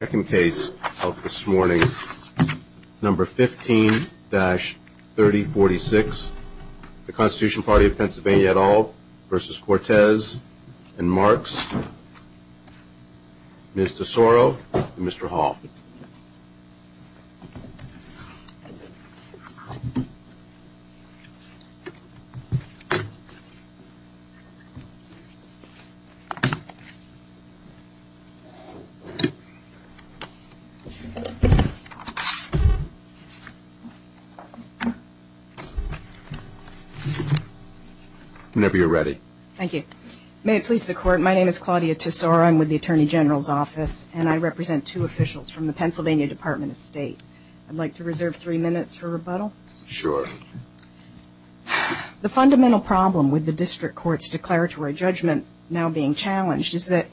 Second case of this morning, number 15-3046, the Constitution Party of Pennsylvania et al. v. Cortes and Marks, Ms. DeSoro and Mr. Hall. Whenever you're ready. Thank you. May it please the Court, my name is Claudia DeSoro, I'm with the Attorney General's Office and I represent two officials from the Pennsylvania Department of State. I'd like to reserve three minutes for rebuttal. Sure. The fundamental problem with the District Court's declaratory judgment now being challenged is that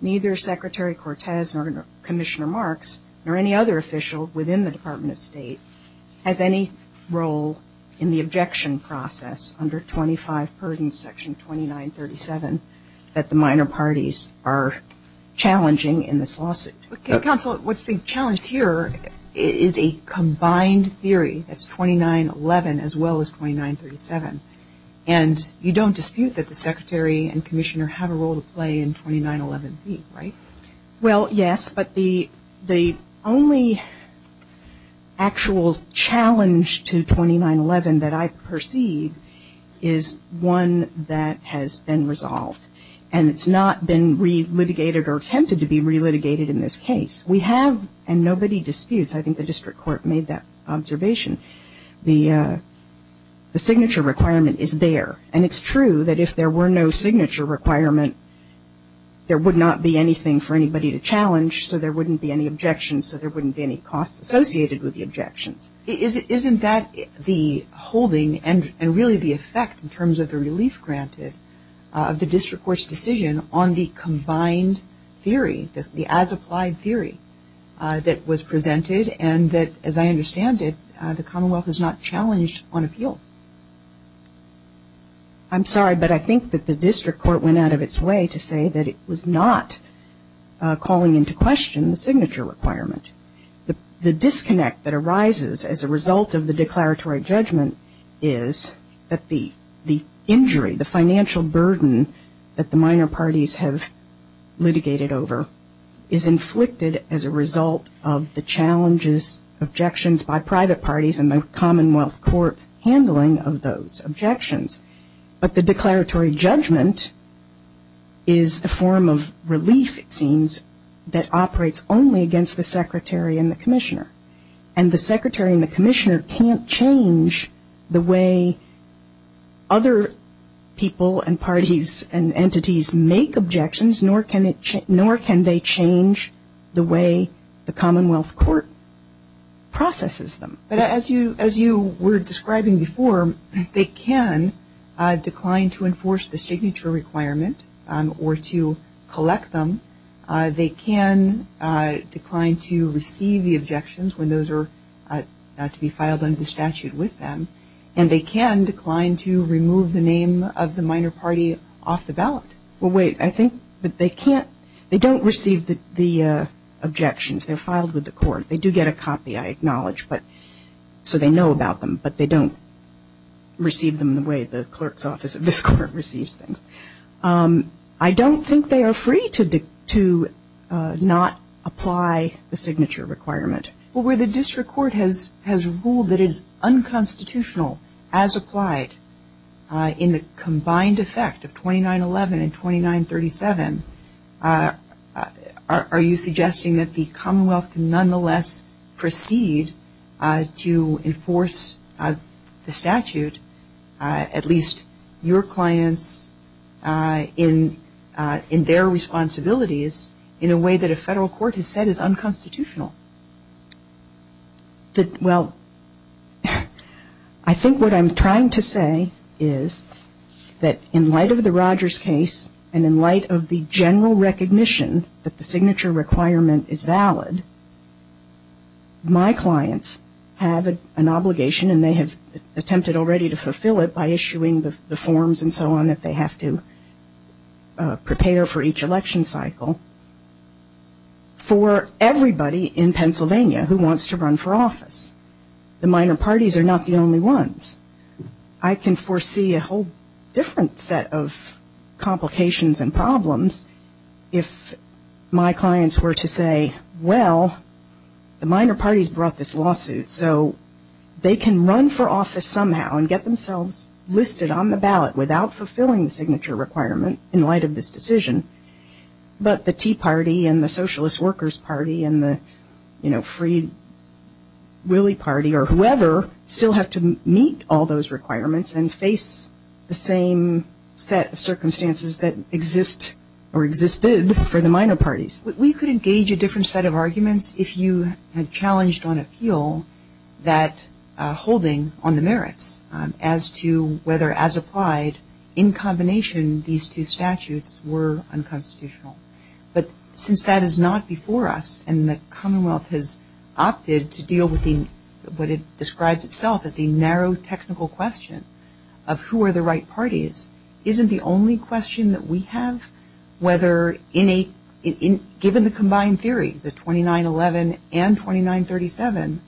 neither Secretary Cortes nor Commissioner Marks nor any other official within the Department of State has any role in the objection process under 25 Purdon Section 2937 that the minor defense lawsuit. Counsel, what's being challenged here is a combined theory that's 2911 as well as 2937. And you don't dispute that the Secretary and Commissioner have a role to play in 2911B, right? Well, yes, but the only actual challenge to 2911 that I perceive is one that has been litigated in this case. We have, and nobody disputes, I think the District Court made that observation, the signature requirement is there. And it's true that if there were no signature requirement, there would not be anything for anybody to challenge, so there wouldn't be any objections, so there wouldn't be any costs associated with the objections. Isn't that the holding and really the effect in terms of the relief granted of the District Court's decision on the combined theory, the as-applied theory that was presented and that, as I understand it, the Commonwealth has not challenged on appeal? I'm sorry, but I think that the District Court went out of its way to say that it was not calling into question the signature requirement. The disconnect that arises as a result of the declaratory judgment is that the injury, the financial burden that the minor parties have litigated over is inflicted as a result of the challenges, objections by private parties and the Commonwealth Court's handling of those objections. But the declaratory judgment is a form of relief, it seems, that operates only against the Secretary and the Commissioner. And the Secretary and the Commissioner can't change the way other people and parties and entities make objections, nor can they change the way the Commonwealth Court processes them. But as you were describing before, they can decline to enforce the signature requirement or to collect them. They can decline to receive the objections when those are to be filed under the statute with them. And they can decline to remove the name of the minor party off the ballot. Well, wait, I think that they can't, they don't receive the objections, they're filed with the court. They do get a copy, I acknowledge, so they know about them, but they don't receive them the way the clerk's office at this court receives things. I don't think they are free to not apply the signature requirement. But where the district court has ruled that it is unconstitutional as applied in the combined effect of 2911 and 2937, are you suggesting that the Commonwealth can nonetheless proceed to enforce the statute, at least your clients, in their responsibilities, in a way that a federal court has said is unconstitutional? Well, I think what I'm trying to say is that in light of the Rogers case and in light of the general recognition that the signature requirement is valid, my clients have an obligation and they have attempted already to fulfill it by issuing the forms and so on that they have to prepare for each election cycle for everybody in Pennsylvania who wants to run for office. The minor parties are not the only ones. I can foresee a whole different set of complications and problems if my clients were to say, well, the minor parties brought this lawsuit, so they can run for office somehow and get themselves listed on the ballot without fulfilling the signature requirement in light of this decision, but the Tea Party and the Socialist Workers Party and the, you know, Free Willy Party or whoever still have to deal with the same set of circumstances that exist or existed for the minor parties. We could engage a different set of arguments if you had challenged on appeal that holding on the merits as to whether as applied in combination these two statutes were unconstitutional, but since that is not before us and the Commonwealth has opted to deal with what it describes itself as the narrow technical question of who are the right parties, isn't the only question that we have whether given the combined theory, the 2911 and 2937,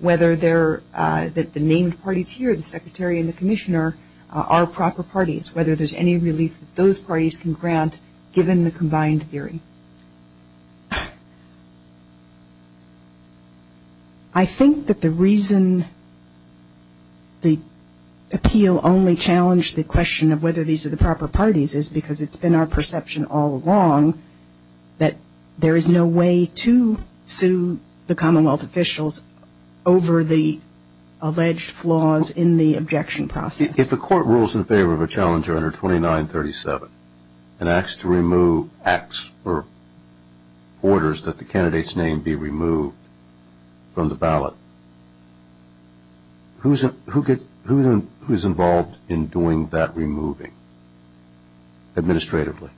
whether the named parties here, the Secretary and the Commissioner, are proper parties, whether there is any relief that those parties can grant given the combined theory. And I think that the reason the appeal only challenged the question of whether these are the proper parties is because it's been our perception all along that there is no way to sue the Commonwealth officials over the alleged flaws in the objection process. If a court rules in favor of a challenger under 2937 and asks to remove acts or orders that the candidate's name be removed from the ballot, who is involved in doing that removing administratively?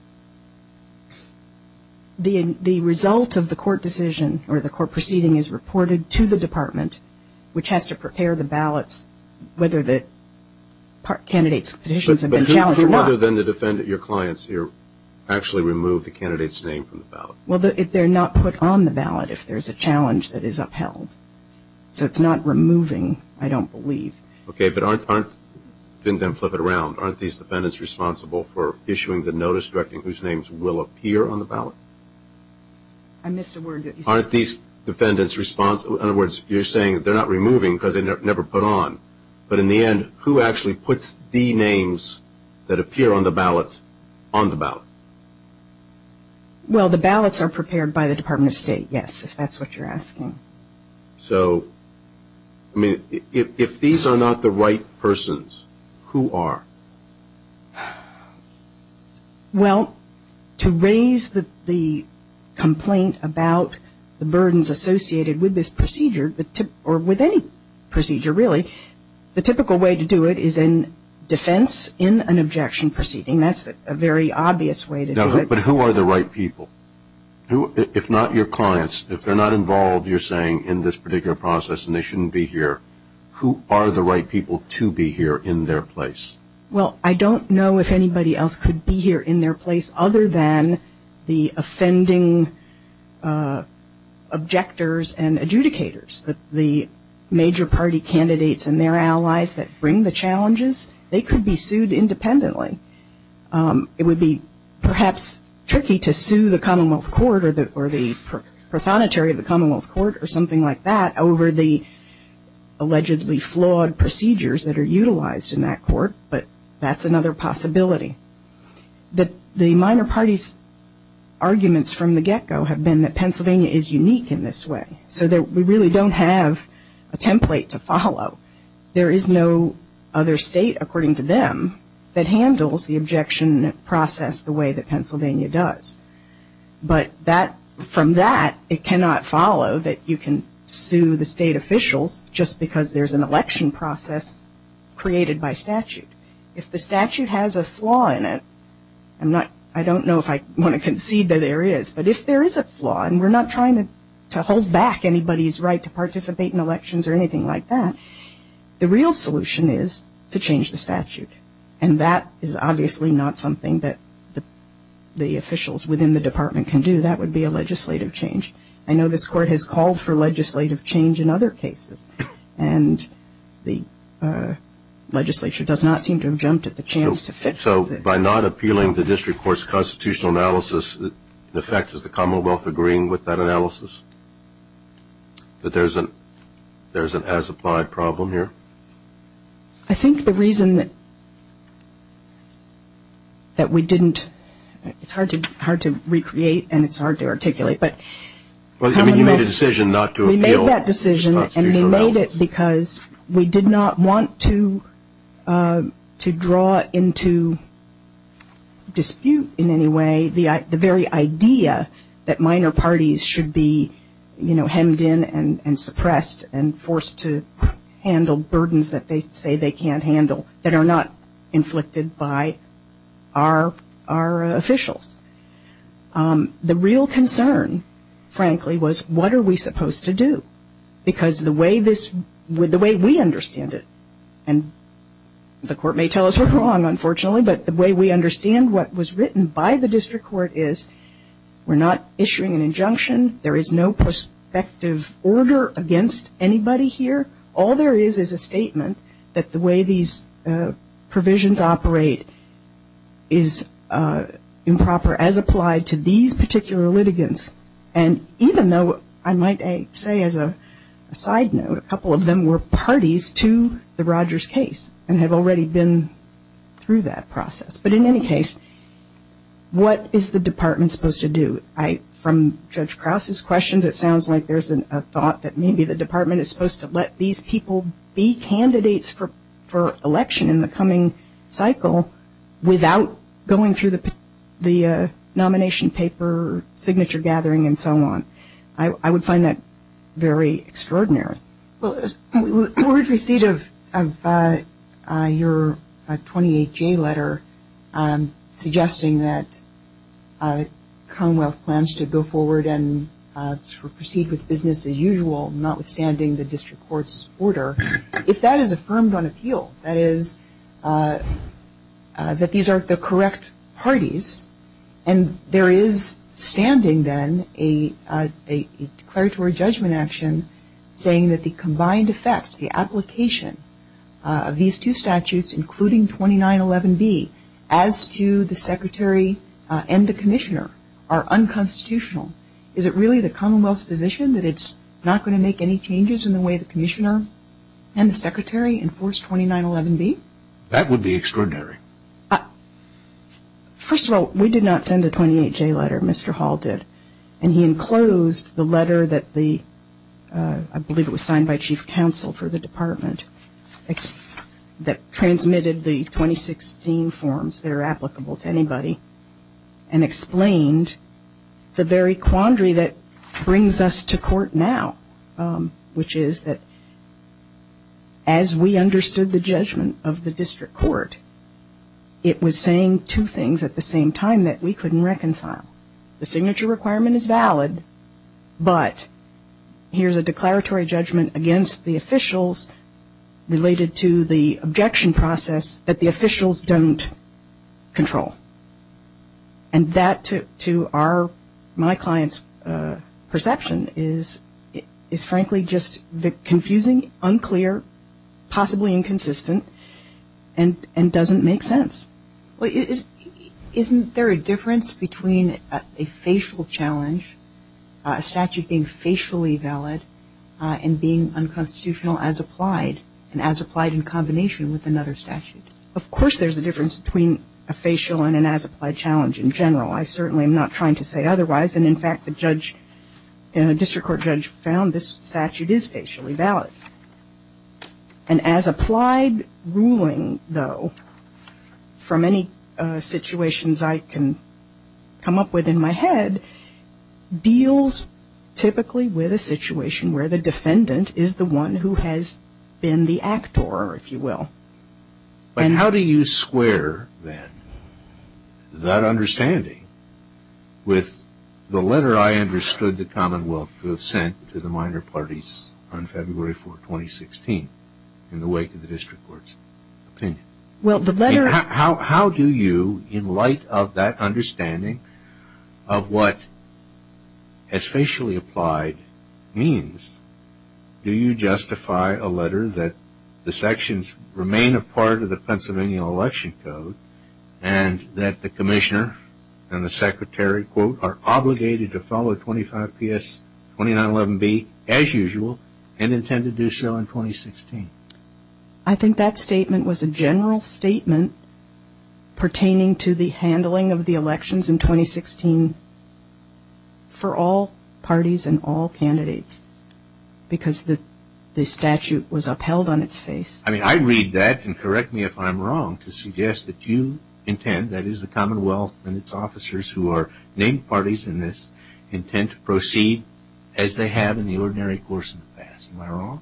The result of the court decision or the court proceeding is reported to the department which has to prepare the ballots whether the candidate's petitions have been challenged or not. So whether then the defendant, your clients here, actually remove the candidate's name from the ballot? Well, if they're not put on the ballot, if there's a challenge that is upheld. So it's not removing, I don't believe. Okay, but aren't, didn't them flip it around, aren't these defendants responsible for issuing the notice directing whose names will appear on the ballot? I missed a word that you said. Aren't these defendants responsible, in other words, you're saying they're not removing because they never put on. But in the end, who actually puts the names that appear on the ballot on the ballot? Well the ballots are prepared by the Department of State, yes, if that's what you're asking. So, I mean, if these are not the right persons, who are? Well, to raise the complaint about the burdens associated with this procedure, or with any procedure really, the typical way to do it is in defense in an objection proceeding. That's a very obvious way to do it. But who are the right people? If not your clients, if they're not involved, you're saying in this particular process and they shouldn't be here, who are the right people to be here in their place? Well I don't know if anybody else could be here in their place other than the offending objectors and adjudicators. The major party candidates and their allies that bring the challenges, they could be sued independently. It would be perhaps tricky to sue the Commonwealth Court or the Prothonotary of the Commonwealth Court or something like that over the allegedly flawed procedures that are utilized in that court, but that's another possibility. The minor party's arguments from the get-go have been that Pennsylvania is unique in this way, so that we really don't have a template to follow. There is no other state, according to them, that handles the objection process the way that Pennsylvania does. But from that, it cannot follow that you can sue the state officials just because there's an election process created by statute. If the statute has a flaw in it, I'm not, I don't know if I want to concede that there is, but if there is a flaw and we're not trying to hold back anybody's right to participate in elections or anything like that, the real solution is to change the statute. And that is obviously not something that the officials within the department can do. That would be a legislative change. I know this court has the legislature does not seem to have jumped at the chance to fix it. So by not appealing the district court's constitutional analysis, in effect, is the Commonwealth agreeing with that analysis? That there's an as-applied problem here? I think the reason that we didn't, it's hard to recreate and it's hard to articulate, but the Commonwealth Well, I mean, you made a decision not to appeal the constitutional analysis. That decision, and they made it because we did not want to draw into dispute in any way the very idea that minor parties should be, you know, hemmed in and suppressed and forced to handle burdens that they say they can't handle, that are not inflicted by our officials. The real concern, frankly, was what are we supposed to do? Because the way this, the way we understand it, and the court may tell us we're wrong, unfortunately, but the way we understand what was written by the district court is we're not issuing an injunction. There is no prospective order against anybody here. All there is is a statement that the way these provisions operate is improper as applied to these particular litigants. And even though, I might say as a side note, a couple of them were parties to the Rogers case and have already been through that process. But in any case, what is the Department supposed to do? I, from Judge Krause's questions, it sounds like there's a thought that maybe the district court should have an opportunity for election in the coming cycle without going through the nomination paper, signature gathering, and so on. I would find that very extraordinary. Well, the word receipt of your 28-J letter suggesting that Commonwealth plans to go forward and proceed with business as usual, notwithstanding the district court's order, if that is affirmed on appeal, that is, that these are the correct parties, and there is standing then a declaratory judgment action saying that the combined effect, the application of these two statutes, including 2911B, as to the Secretary and the Commissioner, are unconstitutional. Is it really the Commonwealth's position that it's not going to make any changes in the way the Commissioner and the Secretary enforce 2911B? That would be extraordinary. First of all, we did not send a 28-J letter. Mr. Hall did. And he enclosed the letter that the, I believe it was signed by Chief Counsel for the Department, that transmitted the 2016 forms that are applicable to anybody, and explained the very quandary that brings us to court now, which is that as we understood the judgment of the district court, it was saying two things at the same time that we couldn't reconcile. The signature requirement is valid, but here's a declaratory judgment against the officials related to the objection process that the officials don't control. And that, to our, my client's perception, is frankly just confusing, unclear, possibly inconsistent, and doesn't make sense. Isn't there a difference between a facial challenge, a statute being facially valid, and being unconstitutional as applied, and as applied in combination with another statute? Of course there's a difference between a facial and an as-applied challenge in general. I certainly am not trying to say otherwise. And in fact, the judge, the district court judge found this statute is facially valid. And as applied ruling, though, from any situations I can come up with in my head, deals typically with a situation where the defendant is the one who has been the actor, if you will. But how do you square, then, that understanding with the letter I understood the Commonwealth to have sent to the minor parties on February 4, 2016, in the wake of the district court's opinion? Well, the letter... How do you, in light of that understanding of what as facially applied means, do you justify a letter that the sections remain a part of the Pennsylvania Election Code, and that the commissioner and the secretary, quote, are obligated to follow 25PS 2911B as usual, and intend to do so in 2016? I think that statement was a general statement pertaining to the handling of the elections in 2016 for all parties and all candidates, because the statute was upheld on its face. I mean, I read that, and correct me if I'm wrong, to suggest that you intend, that is the Commonwealth and its officers who are named parties in this, intend to proceed as they have in the ordinary course of the past. Am I wrong?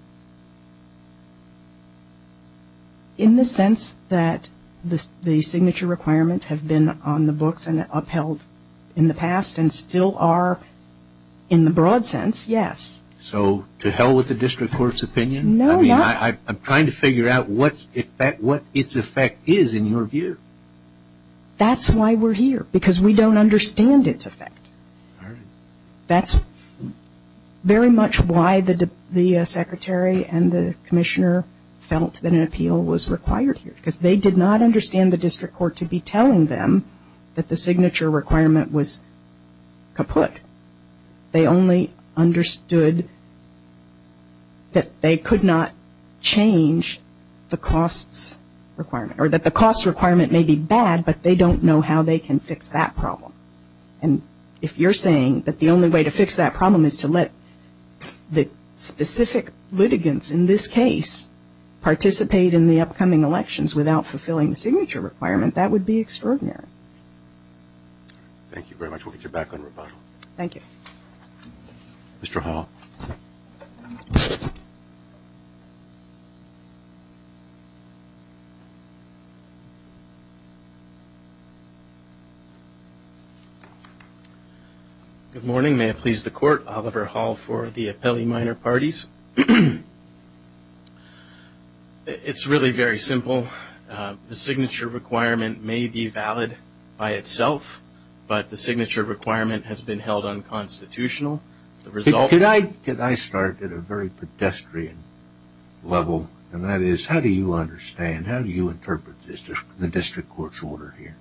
In the sense that the signature requirements have been on the books and upheld in the past and still are in the broad sense, yes. So to hell with the district court's opinion? No, not... I mean, I'm trying to figure out what its effect is in your view. That's why we're here, because we don't understand its effect. That's very much why the secretary and the commissioner felt that an appeal was required here, because they did not understand the district court to be telling them that the signature requirement was kaput. They only understood that they could not change the costs requirement, or that the costs requirement may be bad, but they don't know how they can fix that problem. And if you're saying that the only way to fix that problem is to let the specific litigants in this case participate in the upcoming elections without fulfilling the signature requirement, that would be extraordinary. Thank you very much. We'll get you back on rebuttal. Thank you. Mr. Hall. Good morning. May it please the Court. Oliver Hall for the Appellee Minor Parties. It's really very simple. The signature requirement may be valid by itself, but the signature requirement has been held unconstitutional. The result... Could I start at a very pedestrian level, and that is, how do you understand, how do you interpret the district court's order here?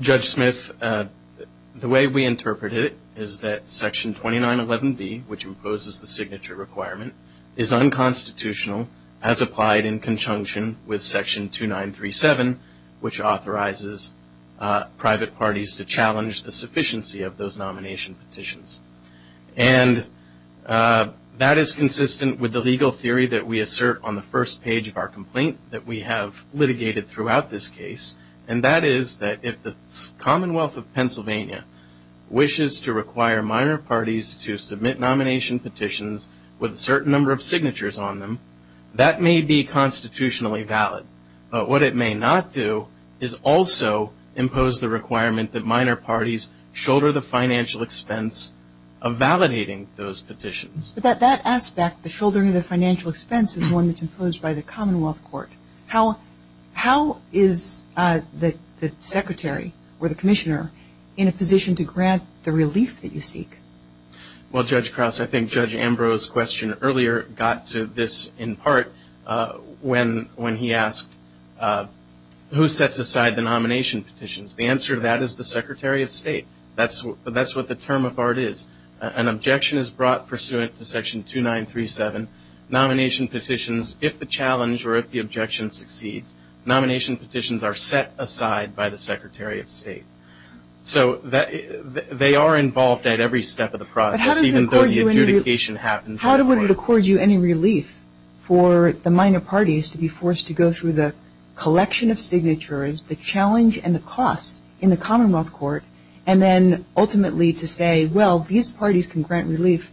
Judge Smith, the way we interpret it is that Section 2911B, which imposes the signature requirement, is unconstitutional as applied in conjunction with Section 2937, which authorizes private parties to challenge the sufficiency of those nomination petitions. And that is consistent with the legal theory that we assert on the first page of our complaint that we have litigated throughout this case, and that is that if the Commonwealth of Pennsylvania wishes to require minor parties to submit nomination petitions with a certain number of signatures on them, that may be constitutionally valid. But what it may not do is also impose the requirement that minor parties shoulder the financial expense of validating those petitions. But that aspect, the shouldering of the financial expense, is one that's imposed by the Commonwealth Court. How is the Secretary or the Commissioner in a position to grant the relief that you seek? Well, Judge Krause, I think Judge Ambrose's question earlier got to this in part when he asked who sets aside the nomination petitions. The answer to that is the Secretary of State. That's what the term of art is. An objection is brought pursuant to Section 2937. Nomination petitions, if the challenge or if the objection succeeds, nomination petitions are set aside by the Secretary of State. So they are involved at every step of the process, even though the adjudication happens in court. Would it accord you any relief for the minor parties to be forced to go through the collection of signatures, the challenge and the cost in the Commonwealth Court, and then ultimately to say, well, these parties can grant relief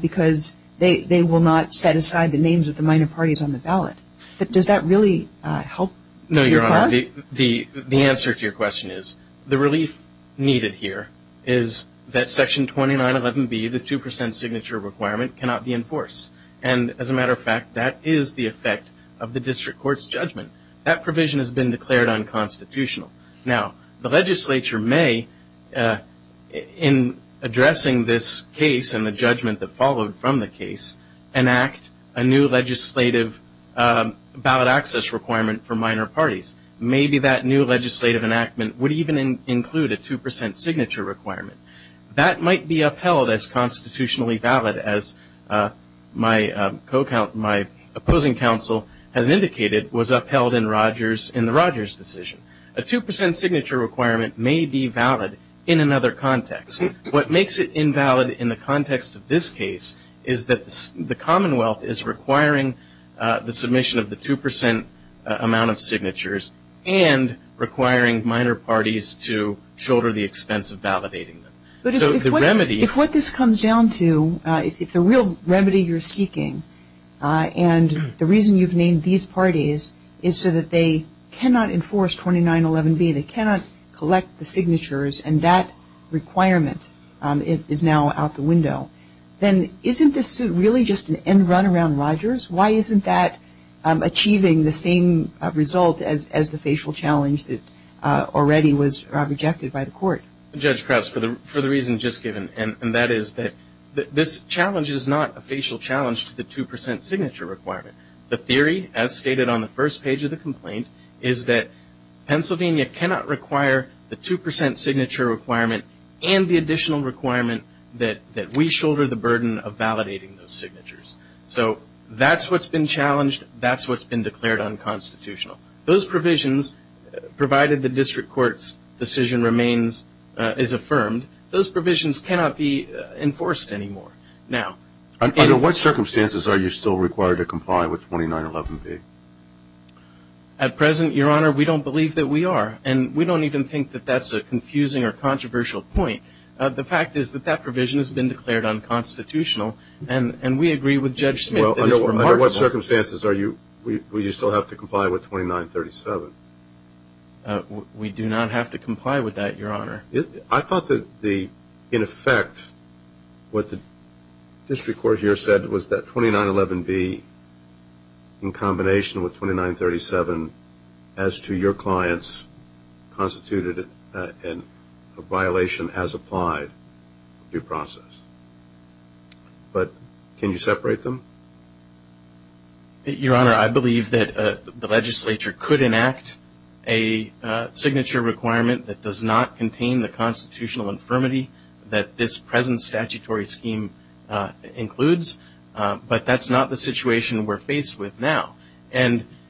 because they will not set aside the names of the minor parties on the ballot? Does that really help your cause? No, Your Honor. The answer to your question is the relief needed here is that Section 2911B, the 2% signature requirement, cannot be enforced. And as a matter of fact, that is the effect of the district court's judgment. That provision has been declared unconstitutional. Now the legislature may, in addressing this case and the judgment that followed from the case, enact a new legislative ballot access requirement for minor parties. Maybe that new legislative enactment would even include a 2% signature requirement. That might be upheld as constitutionally valid as my opposing counsel has indicated was upheld in the Rogers decision. A 2% signature requirement may be valid in another context. What makes it invalid in the context of this case is that the Commonwealth is requiring the submission of the 2% amount of signatures and requiring minor parties to shoulder the expense of validating them. But if what this comes down to, if the real remedy you're seeking, and the reason you've named these parties is so that they cannot enforce 2911B, they cannot collect the signatures and that requirement is now out the window, then isn't this really just an end run around Rogers? Why isn't that achieving the same result as the facial challenge that already was rejected by the court? Judge Krauss, for the reason just given, and that is that this challenge is not a facial challenge to the 2% signature requirement. The theory, as stated on the first page of the complaint, is that Pennsylvania cannot require the 2% signature requirement and the That's what's been challenged. That's what's been declared unconstitutional. Those provisions, provided the district court's decision remains, is affirmed, those provisions cannot be enforced anymore. Now... Under what circumstances are you still required to comply with 2911B? At present, Your Honor, we don't believe that we are. And we don't even think that that's a confusing or controversial point. The fact is that that provision has been declared unconstitutional and we agree with Judge Smith. Well, under what circumstances will you still have to comply with 2937? We do not have to comply with that, Your Honor. I thought that, in effect, what the district court here said was that 2911B, in combination with 2937, as to your clients, constituted a violation as applied due process. But can you separate them? Your Honor, I believe that the legislature could enact a signature requirement that does not contain the constitutional infirmity that this present statutory scheme includes. But that's not the situation we're faced with now.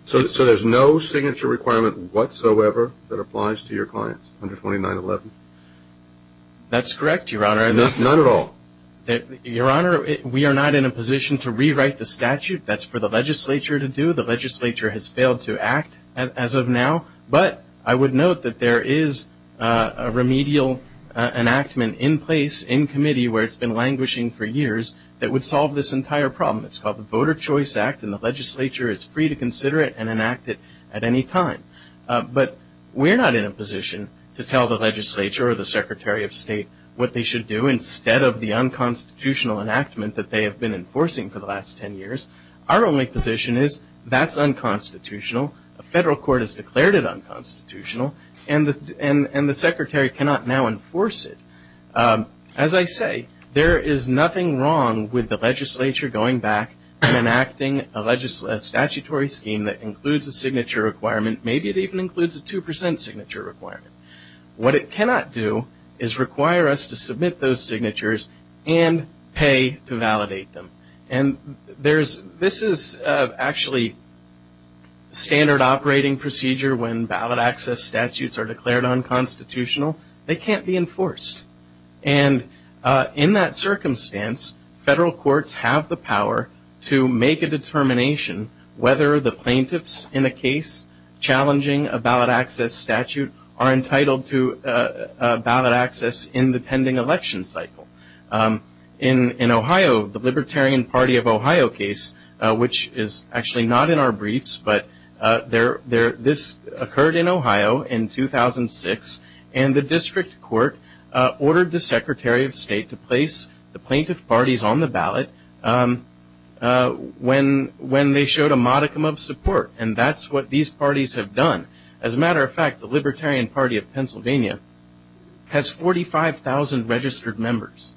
So there's no signature requirement whatsoever that applies to your clients under 2911? That's correct, Your Honor. None at all? Your Honor, we are not in a position to rewrite the statute. That's for the legislature to do. The legislature has failed to act as of now. But I would note that there is a remedial enactment in place, in committee, where it's been languishing for years, that would solve this entire problem. It's called the Voter Choice Act and the legislature is free to consider it and enact it at any time. But we're not in a position to tell the legislature or the Secretary of State what they should do instead of the unconstitutional enactment that they have been enforcing for the last 10 years. Our only position is that's unconstitutional. The federal court has declared it unconstitutional and the Secretary cannot now enforce it. As I say, there is nothing wrong with the legislature going back and enacting a statutory scheme that includes a signature requirement. Maybe it even includes a 2% signature requirement. What it cannot do is require us to submit those signatures and pay to validate them. This is actually standard operating procedure when ballot access statutes are declared unconstitutional. They can't be enforced. In that circumstance, federal courts have the power to make a determination whether the plaintiffs in a case challenging a ballot access statute are entitled to ballot access in the pending election cycle. In Ohio, the Libertarian Party of Ohio case, which is actually not in our briefs, but this occurred in Ohio in 2006 and the district court ordered the Secretary of State to place the plaintiff parties on the ballot when they showed a modicum of support and that's what these parties have done. As a matter of fact, the Libertarian Party of Pennsylvania has 45,000 registered members.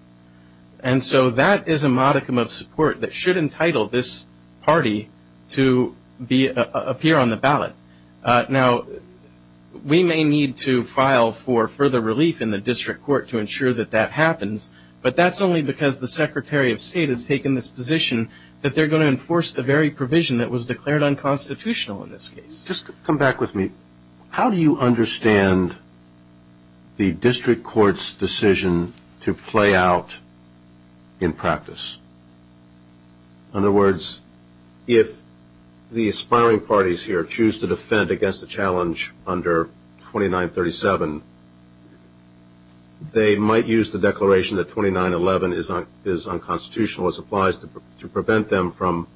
That is a modicum of support that should entitle this party to appear on the ballot. We may need to file for further relief in the district court to ensure that that happens, but that's only because the Secretary of State has taken this position that they're going to enforce the very provision that was declared unconstitutional in this case. Just come back with me. How do you understand the district court's decision to play out in practice? In other words, if the aspiring parties here choose to defend against the challenge under 2937, they might use the declaration that 2911 is unconstitutional as applies to prevent them from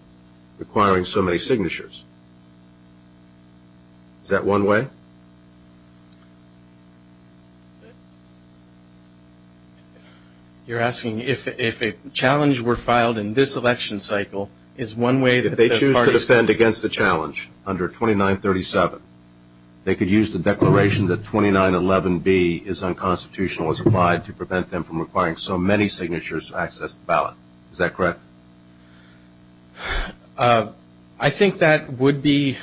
requiring so many signatures. Is that one way? You're asking if a challenge were filed in this election cycle, is one way that the parties could use the declaration that 2911B is unconstitutional as applied to prevent them from requiring so many signatures to access the ballot? Is that correct? I think that would be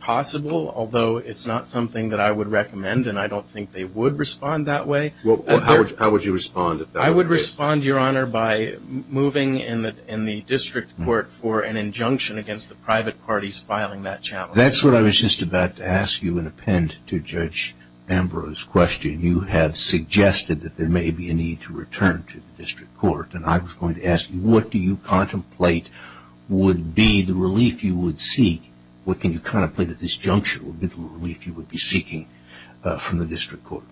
possible, although it's not something that I would recommend and I don't think they would respond that way. How would you respond? I would respond, Your Honor, by moving in the district court for an injunction against the private parties filing that challenge. That's what I was just about to ask you and append to Judge Ambrose's question. You have suggested that there may be a need to return to the district court and I was going to ask you, what do you contemplate would be the relief you would seek? What can you contemplate at this junction would be the relief you would be seeking from the district court?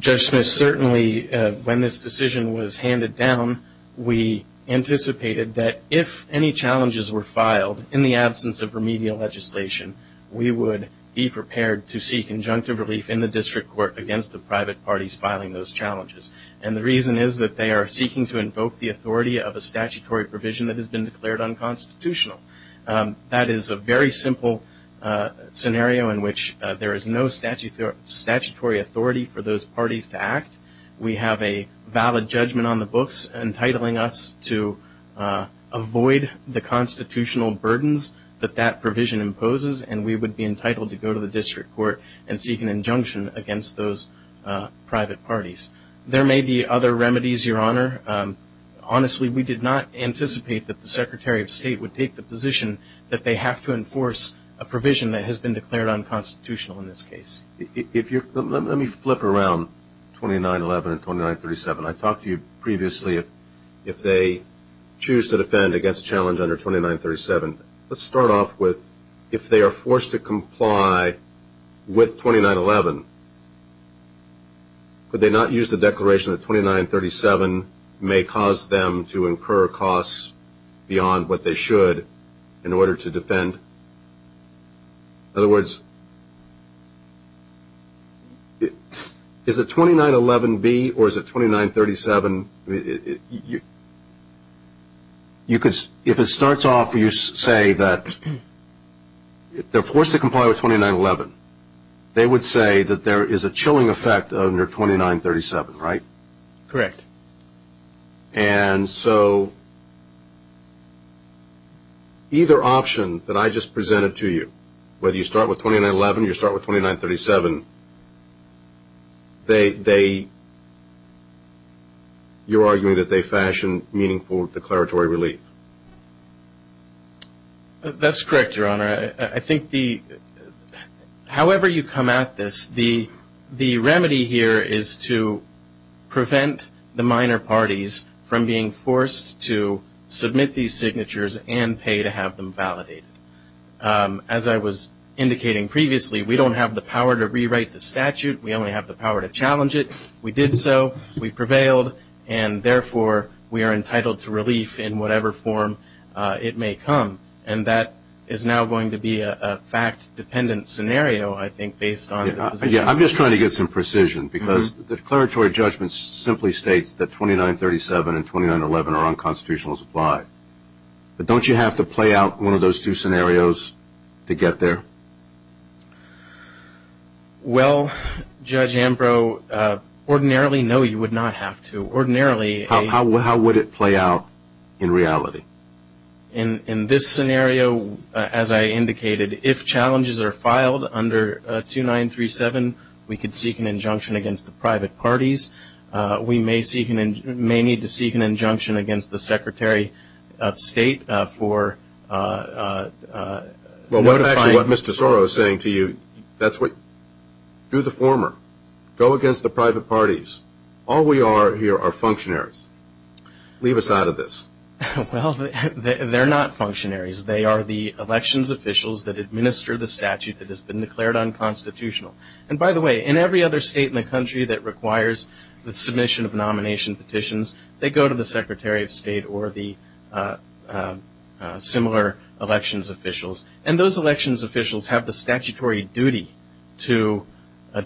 Judge Smith, certainly when this decision was handed down, we anticipated that if any challenges were filed in the absence of remedial legislation, we would be prepared to seek injunctive relief in the district court against the private parties filing those challenges. The reason is that they are seeking to invoke the authority of a statutory provision that has been declared unconstitutional. That is a very simple scenario in which there is no statutory authority for those parties to act. We have a valid judgment on the books entitling us to avoid the constitutional burdens that that provision imposes and we would be entitled to go to the district court and seek an injunction against those private parties. There may be other remedies, Your Honor. Honestly, we did not anticipate that the Secretary of State would take the position that they have to enforce a provision that has been declared unconstitutional in this case. Let me flip around 2911 and 2937. I talked to you previously if they choose to defend against a challenge under 2937. Let's start off with if they are forced to comply with 2911, could they not use the may cause them to incur costs beyond what they should in order to defend? In other words, is it 2911B or is it 2937? You could, if it starts off, you say that they are forced to comply with 2911. They would say that there is a chilling effect under 2937, right? Correct. And so either option that I just presented to you, whether you start with 2911 or you start with 2937, you are arguing that they fashion meaningful declaratory relief? That's correct, Your Honor. I think however you come at this, the remedy here is to prevent the minor parties from being forced to submit these signatures and pay to have them validated. As I was indicating previously, we don't have the power to rewrite the statute. We only have the power to challenge it. We did so, we prevailed, and therefore we are entitled to relief in whatever form it may come. And that is now going to be a fact-dependent scenario, I think, based on the position. Yeah, I'm just trying to get some precision because the declaratory judgment simply states that 2937 and 2911 are unconstitutional as applied, but don't you have to play out one of those two scenarios to get there? Well, Judge Ambrose, ordinarily, no, you would not have to. Ordinarily... How would it play out in reality? In this scenario, as I indicated, if challenges are filed under 2937, we could seek an injunction against the private parties. We may need to seek an injunction against the Secretary of State for notifying... Well, that's actually what Mr. Soros is saying to you. That's what... Do the former. Go against the private parties. All we are here are functionaries. Leave us out of this. Well, they're not functionaries. They are the elections officials that administer the statute that has been declared unconstitutional. And by the way, in every other state in the country that requires the submission of nomination petitions, they go to the Secretary of State or the similar elections officials. And those elections officials have the statutory duty to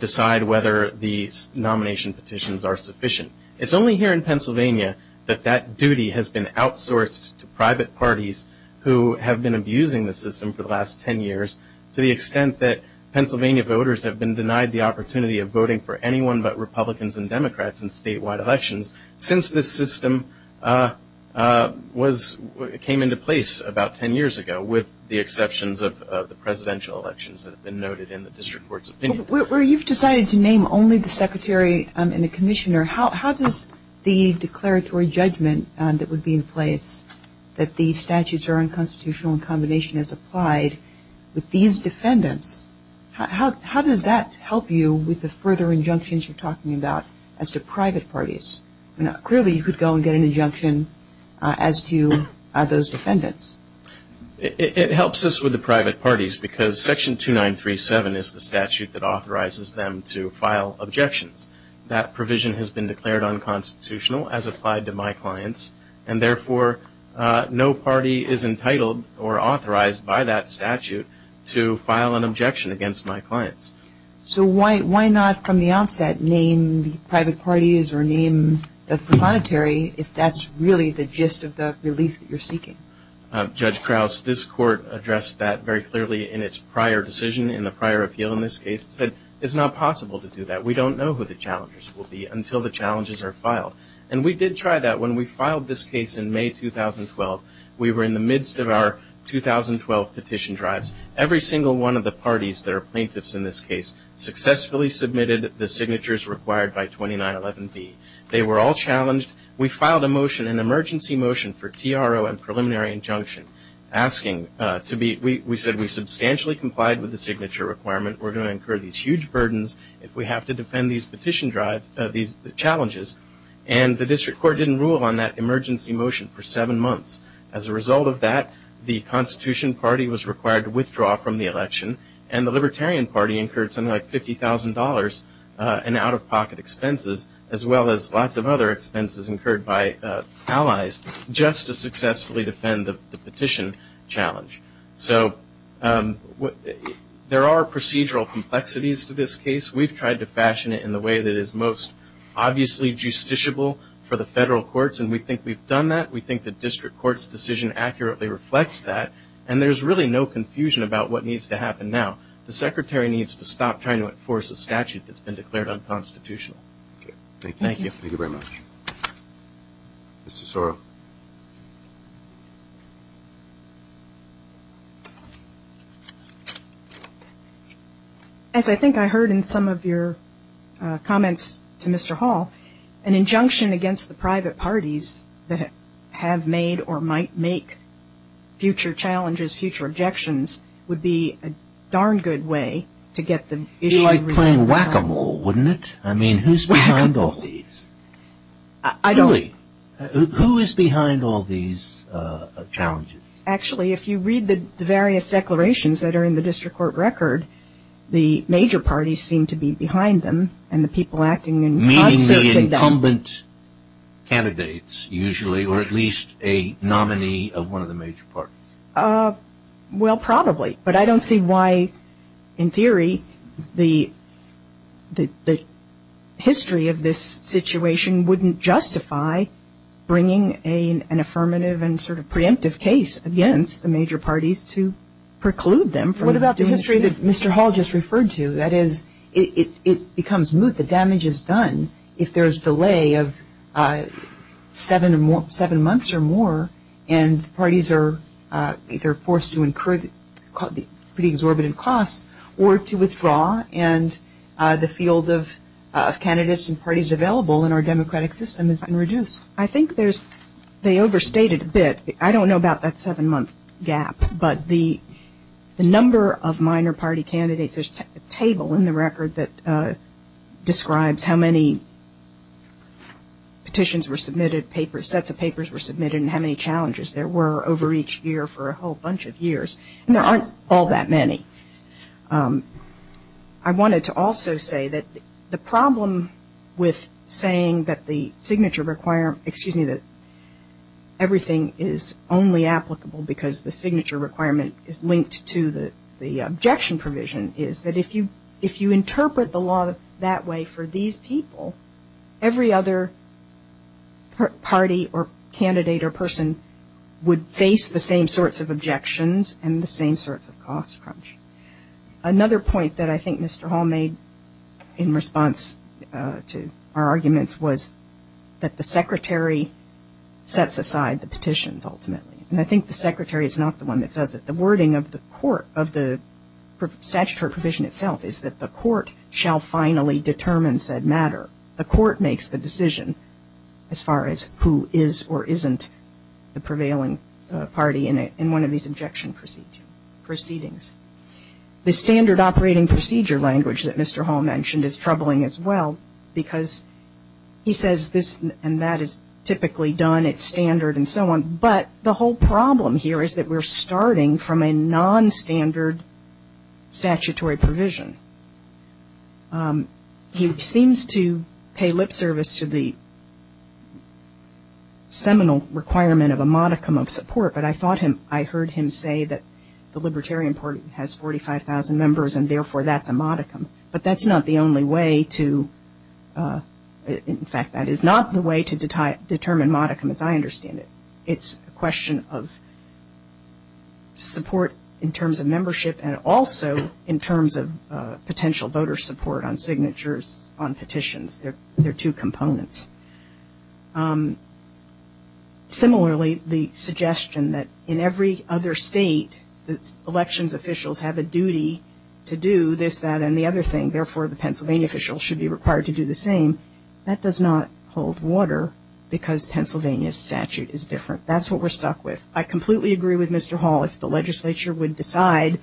decide whether the nomination petitions are sufficient. It's only here in Pennsylvania that that duty has been outsourced to private parties who have been abusing the system for the last 10 years to the extent that Pennsylvania voters have been denied the opportunity of voting for anyone but Republicans and Democrats in statewide elections since this system came into place about 10 years ago, with the exceptions of the presidential elections that have been noted in the district court's opinion. You've decided to name only the secretary and the commissioner. How does the declaratory judgment that would be in place that the statutes are unconstitutional in combination as applied with these defendants, how does that help you with the further injunctions you're talking about as to private parties? Clearly you could go and get an injunction as to those defendants. It helps us with the private parties because section 2937 is the statute that authorizes them to file objections. That provision has been declared unconstitutional as applied to my clients and therefore no party is entitled or authorized by that statute to file an objection against my clients. So why not from the outset name the private parties or name the preponetary if that's really the gist of the relief that you're seeking? Judge Krause, this court addressed that very clearly in its prior decision, in the prior appeal in this case. It said it's not possible to do that. We don't know who the challengers will be until the challenges are filed. And we did try that. When we filed this case in May 2012, we were in the midst of our 2012 petition drives. Every single one of the parties that are plaintiffs in this case successfully submitted the signatures required by 2911B. They were all challenged. We filed a motion, an emergency motion for TRO and preliminary injunction asking to be – we said we substantially complied with the signature requirement. We're going to incur these huge burdens if we have to defend these petition drive – these challenges. And the district court didn't rule on that emergency motion for seven months. As a result of that, the Constitution Party was required to withdraw from the election and the Libertarian Party incurred something like $50,000 in out-of-pocket expenses as well as lots of other expenses incurred by allies just to successfully defend the petition challenge. So there are procedural complexities to this case. We've tried to fashion it in the way that is most obviously justiciable for the federal courts and we think we've done that. We think the district court's decision accurately reflects that. And there's really no confusion about what needs to happen now. The Secretary needs to stop trying to enforce a statute that's been declared unconstitutional. Thank you. Thank you. Thank you very much. Mr. Sorrell. As I think I heard in some of your comments to Mr. Hall, an injunction against the private parties that have made or might make future challenges, future objections would be a darn good way to get the issue – It would be like playing whack-a-mole, wouldn't it? I mean, who's behind all these? I don't – Really, who is behind all these challenges? Actually, if you read the various declarations that are in the district court record, the major parties seem to be behind them and the people acting – Meaning the incumbent candidates usually or at least a nominee of one of the major parties? Well, probably. But I don't see why, in theory, the history of this situation wouldn't justify bringing an affirmative and sort of preemptive case against the major parties to preclude them from doing the same. What about the history that Mr. Hall just referred to? That is, it becomes moot, the damage is done if there's delay of seven months or more and parties are either forced to incur pretty exorbitant costs or to withdraw and the field of candidates and parties available in our democratic system has been reduced. I think there's – they overstated a bit. I don't know about that seven-month gap, but the number of minor party candidates – there's a table in the record that describes how many petitions were submitted, sets of papers were submitted, and how many challenges there were over each year for a whole bunch of years. And there aren't all that many. I wanted to also say that the problem with saying that the signature – excuse me – that everything is only applicable because the signature requirement is linked to the objection provision is that if you interpret the law that way for these people, every other party or candidate or person would face the same sorts of objections and the same sorts of cost crunch. Another point that I think Mr. Hall made in response to our arguments was that the Secretary sets aside the petitions ultimately. And I think the Secretary is not the one that does it. The wording of the court – of the statutory provision itself is that the court shall finally determine said matter. The court makes the decision as far as who is or isn't the prevailing party in one of these objection proceedings. The standard operating procedure language that Mr. Hall mentioned is troubling as well because he says this and that is typically done at standard and so on. But the whole problem here is that we're starting from a non-standard statutory provision. He seems to pay lip service to the seminal requirement of a modicum of support, but I thought him – I heard him say that the Libertarian Party has 45,000 members and therefore that's a modicum. But that's not the only way to – in fact, that is not the way to determine modicum as I understand it. It's a question of support in terms of membership and also in terms of potential voter support on signatures on petitions. They're two components. Similarly the suggestion that in every other state that elections officials have a duty to do this, that, and the other thing, therefore the Pennsylvania officials should be required to do the same, that does not hold water because Pennsylvania's statute is different. That's what we're stuck with. I completely agree with Mr. Hall. If the legislature would decide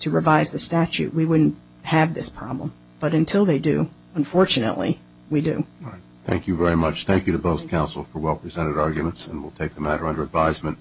to revise the statute, we wouldn't have this problem. But until they do, unfortunately, we do. Thank you very much. Thank you to both counsel for well presented arguments and we'll take the matter under advisement.